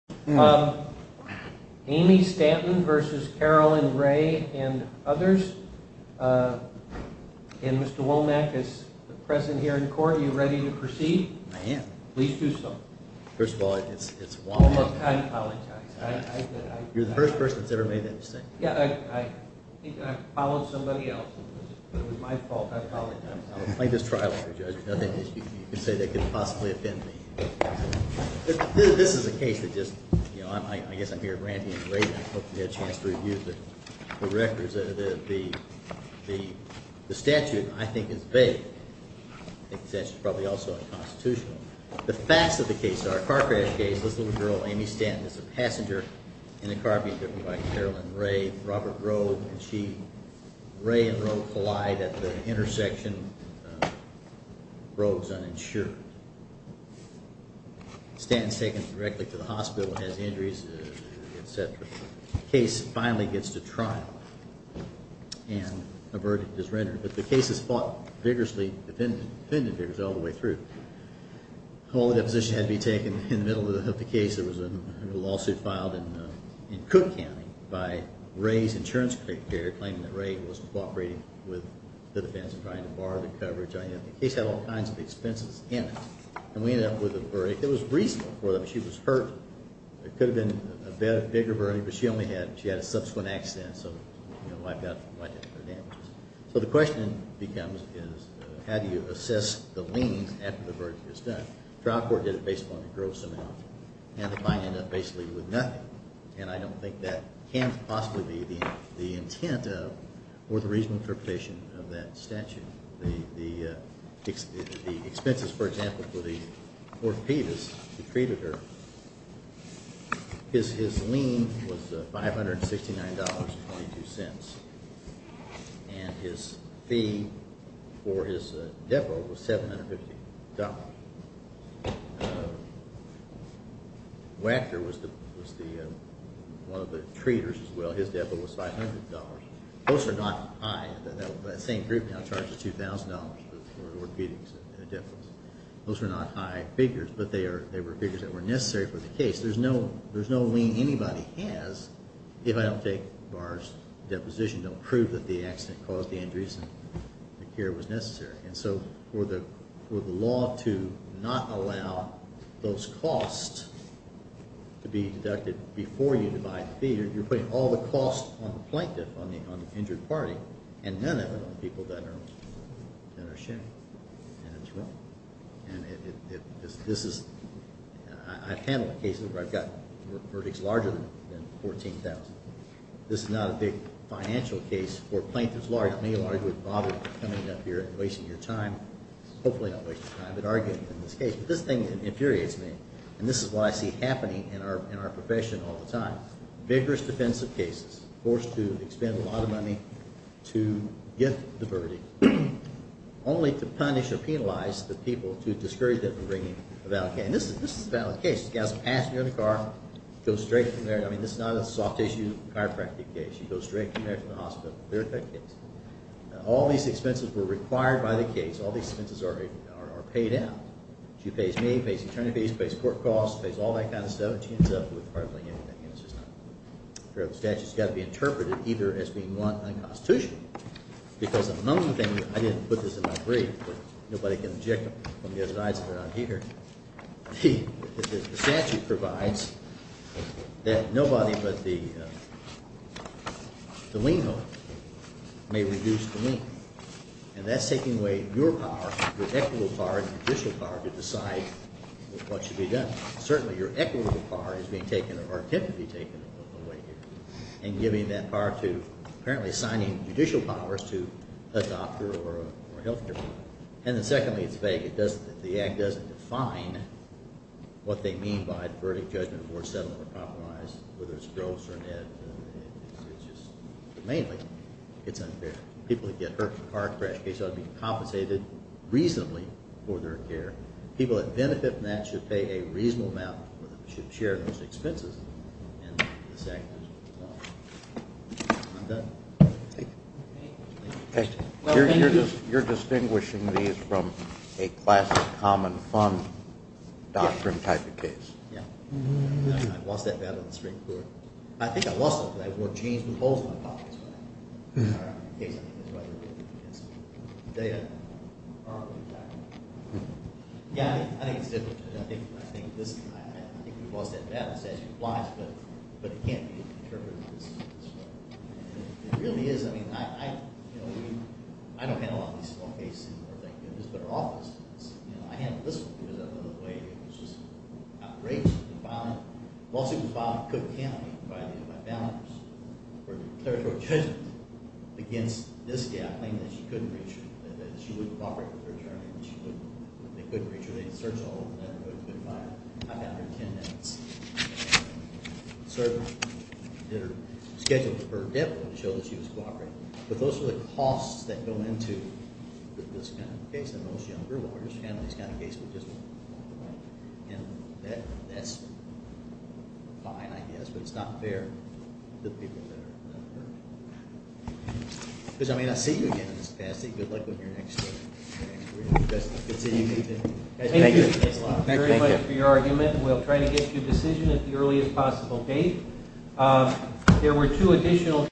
and others. And Mr. Womack is present here in court. Are you ready to proceed? I am. Please do so. First of all, it's Womack. Look, I apologize. You're the first person that's ever made that mistake. Yeah, I think I followed somebody else. It was my fault. I apologize. I will claim this trial, Mr. Judge. There's nothing that you can say that could possibly offend me. This is a case that just, you know, I guess I'm here at Randy and Ray, and I hope we get a chance to review the records. The statute, I think, is vague. I think the statute is probably also unconstitutional. The facts of the case are, car crash case, this little girl, Amy Stanton, is a passenger in a car being driven by Marilyn Rea, Robert Grove, and she, Rea and Grove collide at the intersection. Grove's uninsured. Stanton's taken directly to the hospital and has injuries, etc. The case finally gets to trial. And a verdict is rendered. But the case is fought vigorously, defended vigorously all the way through. All the deposition had to be taken in the middle of the case. There was a lawsuit filed in Cook County by Ray's insurance creditor, claiming that Ray was cooperating with the defense in trying to borrow the coverage. The case had all kinds of expenses in it. And we ended up with a verdict that was reasonable for them. She was hurt. It could have been a bigger verdict, but she only had a subsequent accident. So the question becomes, how do you assess the liens after the verdict is done? Trial court did it based upon the Grove's amount. And the client ended up basically with nothing. And I don't think that can possibly be the intent of or the reasonable interpretation of that statute. The expenses, for example, for the orthopedist who treated her, his lien was $569.22. And his fee for his depo was $750.00. Wachter was one of the treaters as well. His depo was $500.00. Those are not high. That same group now charges $2,000.00 for orthopedics in a difference. Those are not high figures, but they were figures that were necessary for the case. There's no lien anybody has if I don't take Barr's deposition to prove that the accident caused the injuries and the care was necessary. And so for the law to not allow those costs to be deducted before you divide the fee, you're putting all the costs on the plaintiff, on the injured party, and none of it on the people that are shamed. And this is – I've handled cases where I've got verdicts larger than $14,000.00. This is not a big financial case for plaintiffs large. Not many lawyers would bother coming up here and wasting your time, hopefully not wasting your time, but arguing in this case. But this thing infuriates me, and this is what I see happening in our profession all the time. Vigorous defensive cases, forced to expend a lot of money to get the verdict, only to punish or penalize the people who discourage them from bringing a valid case. And this is a valid case. It goes straight from there. I mean, this is not a soft-tissue chiropractic case. It goes straight from there to the hospital. Clear-cut case. Now, all these expenses were required by the case. All these expenses are paid out. She pays me, pays the attorney fees, pays court costs, pays all that kind of stuff, and she ends up with hardly anything. And it's just not fair. The statute's got to be interpreted either as being one unconstitutional, because among the things – I didn't put this in my brief, but nobody can object from the other sides if they're not here. The statute provides that nobody but the lien holder may reduce the lien. And that's taking away your power, your equitable power and judicial power, to decide what should be done. Certainly, your equitable power is being taken or could be taken away here, and giving that power to apparently signing judicial powers to a doctor or a health care provider. And then secondly, it's vague. If the Act doesn't define what they mean by the verdict, judgment, or settlement of compromise, whether it's gross or net, it's just – mainly, it's unfair. People that get hurt in a car crash case ought to be compensated reasonably for their care. People that benefit from that should pay a reasonable amount or should share those expenses. And the statute is wrong. I'm done. Thank you. Thank you. You're distinguishing these from a classic common fund doctrine type of case. Yeah. I lost that battle in the Supreme Court. I think I lost it because I wore jeans with holes in my pockets. Sorry. The case, I think, is right over there. Yes. Yeah, I think it's difficult. I think this – I think we've lost that battle. The statute applies, but it can't be interpreted this way. It really is. I mean, I don't handle all these small cases anymore, thank goodness. But our office does. I handle this one because I love the way it was just outraged and violent. The lawsuit was violent. I couldn't count it. By the way, my founders were clear about judgment against this guy, claiming that she couldn't reach her, that she wouldn't cooperate with her attorney, that she wouldn't – that they couldn't reach her. They had to search all over the neighborhood to identify her. I found her 10 minutes. Sir, did her – scheduled her death to show that she was cooperating. But those are the costs that go into this kind of case and those younger lawyers handling these kind of cases. And that's fine, I guess, but it's not fair to the people that are out there. Because, I mean, I see you again in this capacity. Good luck with your next career. Good to see you. Thank you. Thank you very much for your argument. We'll try to get to a decision at the earliest possible date. There were two additional.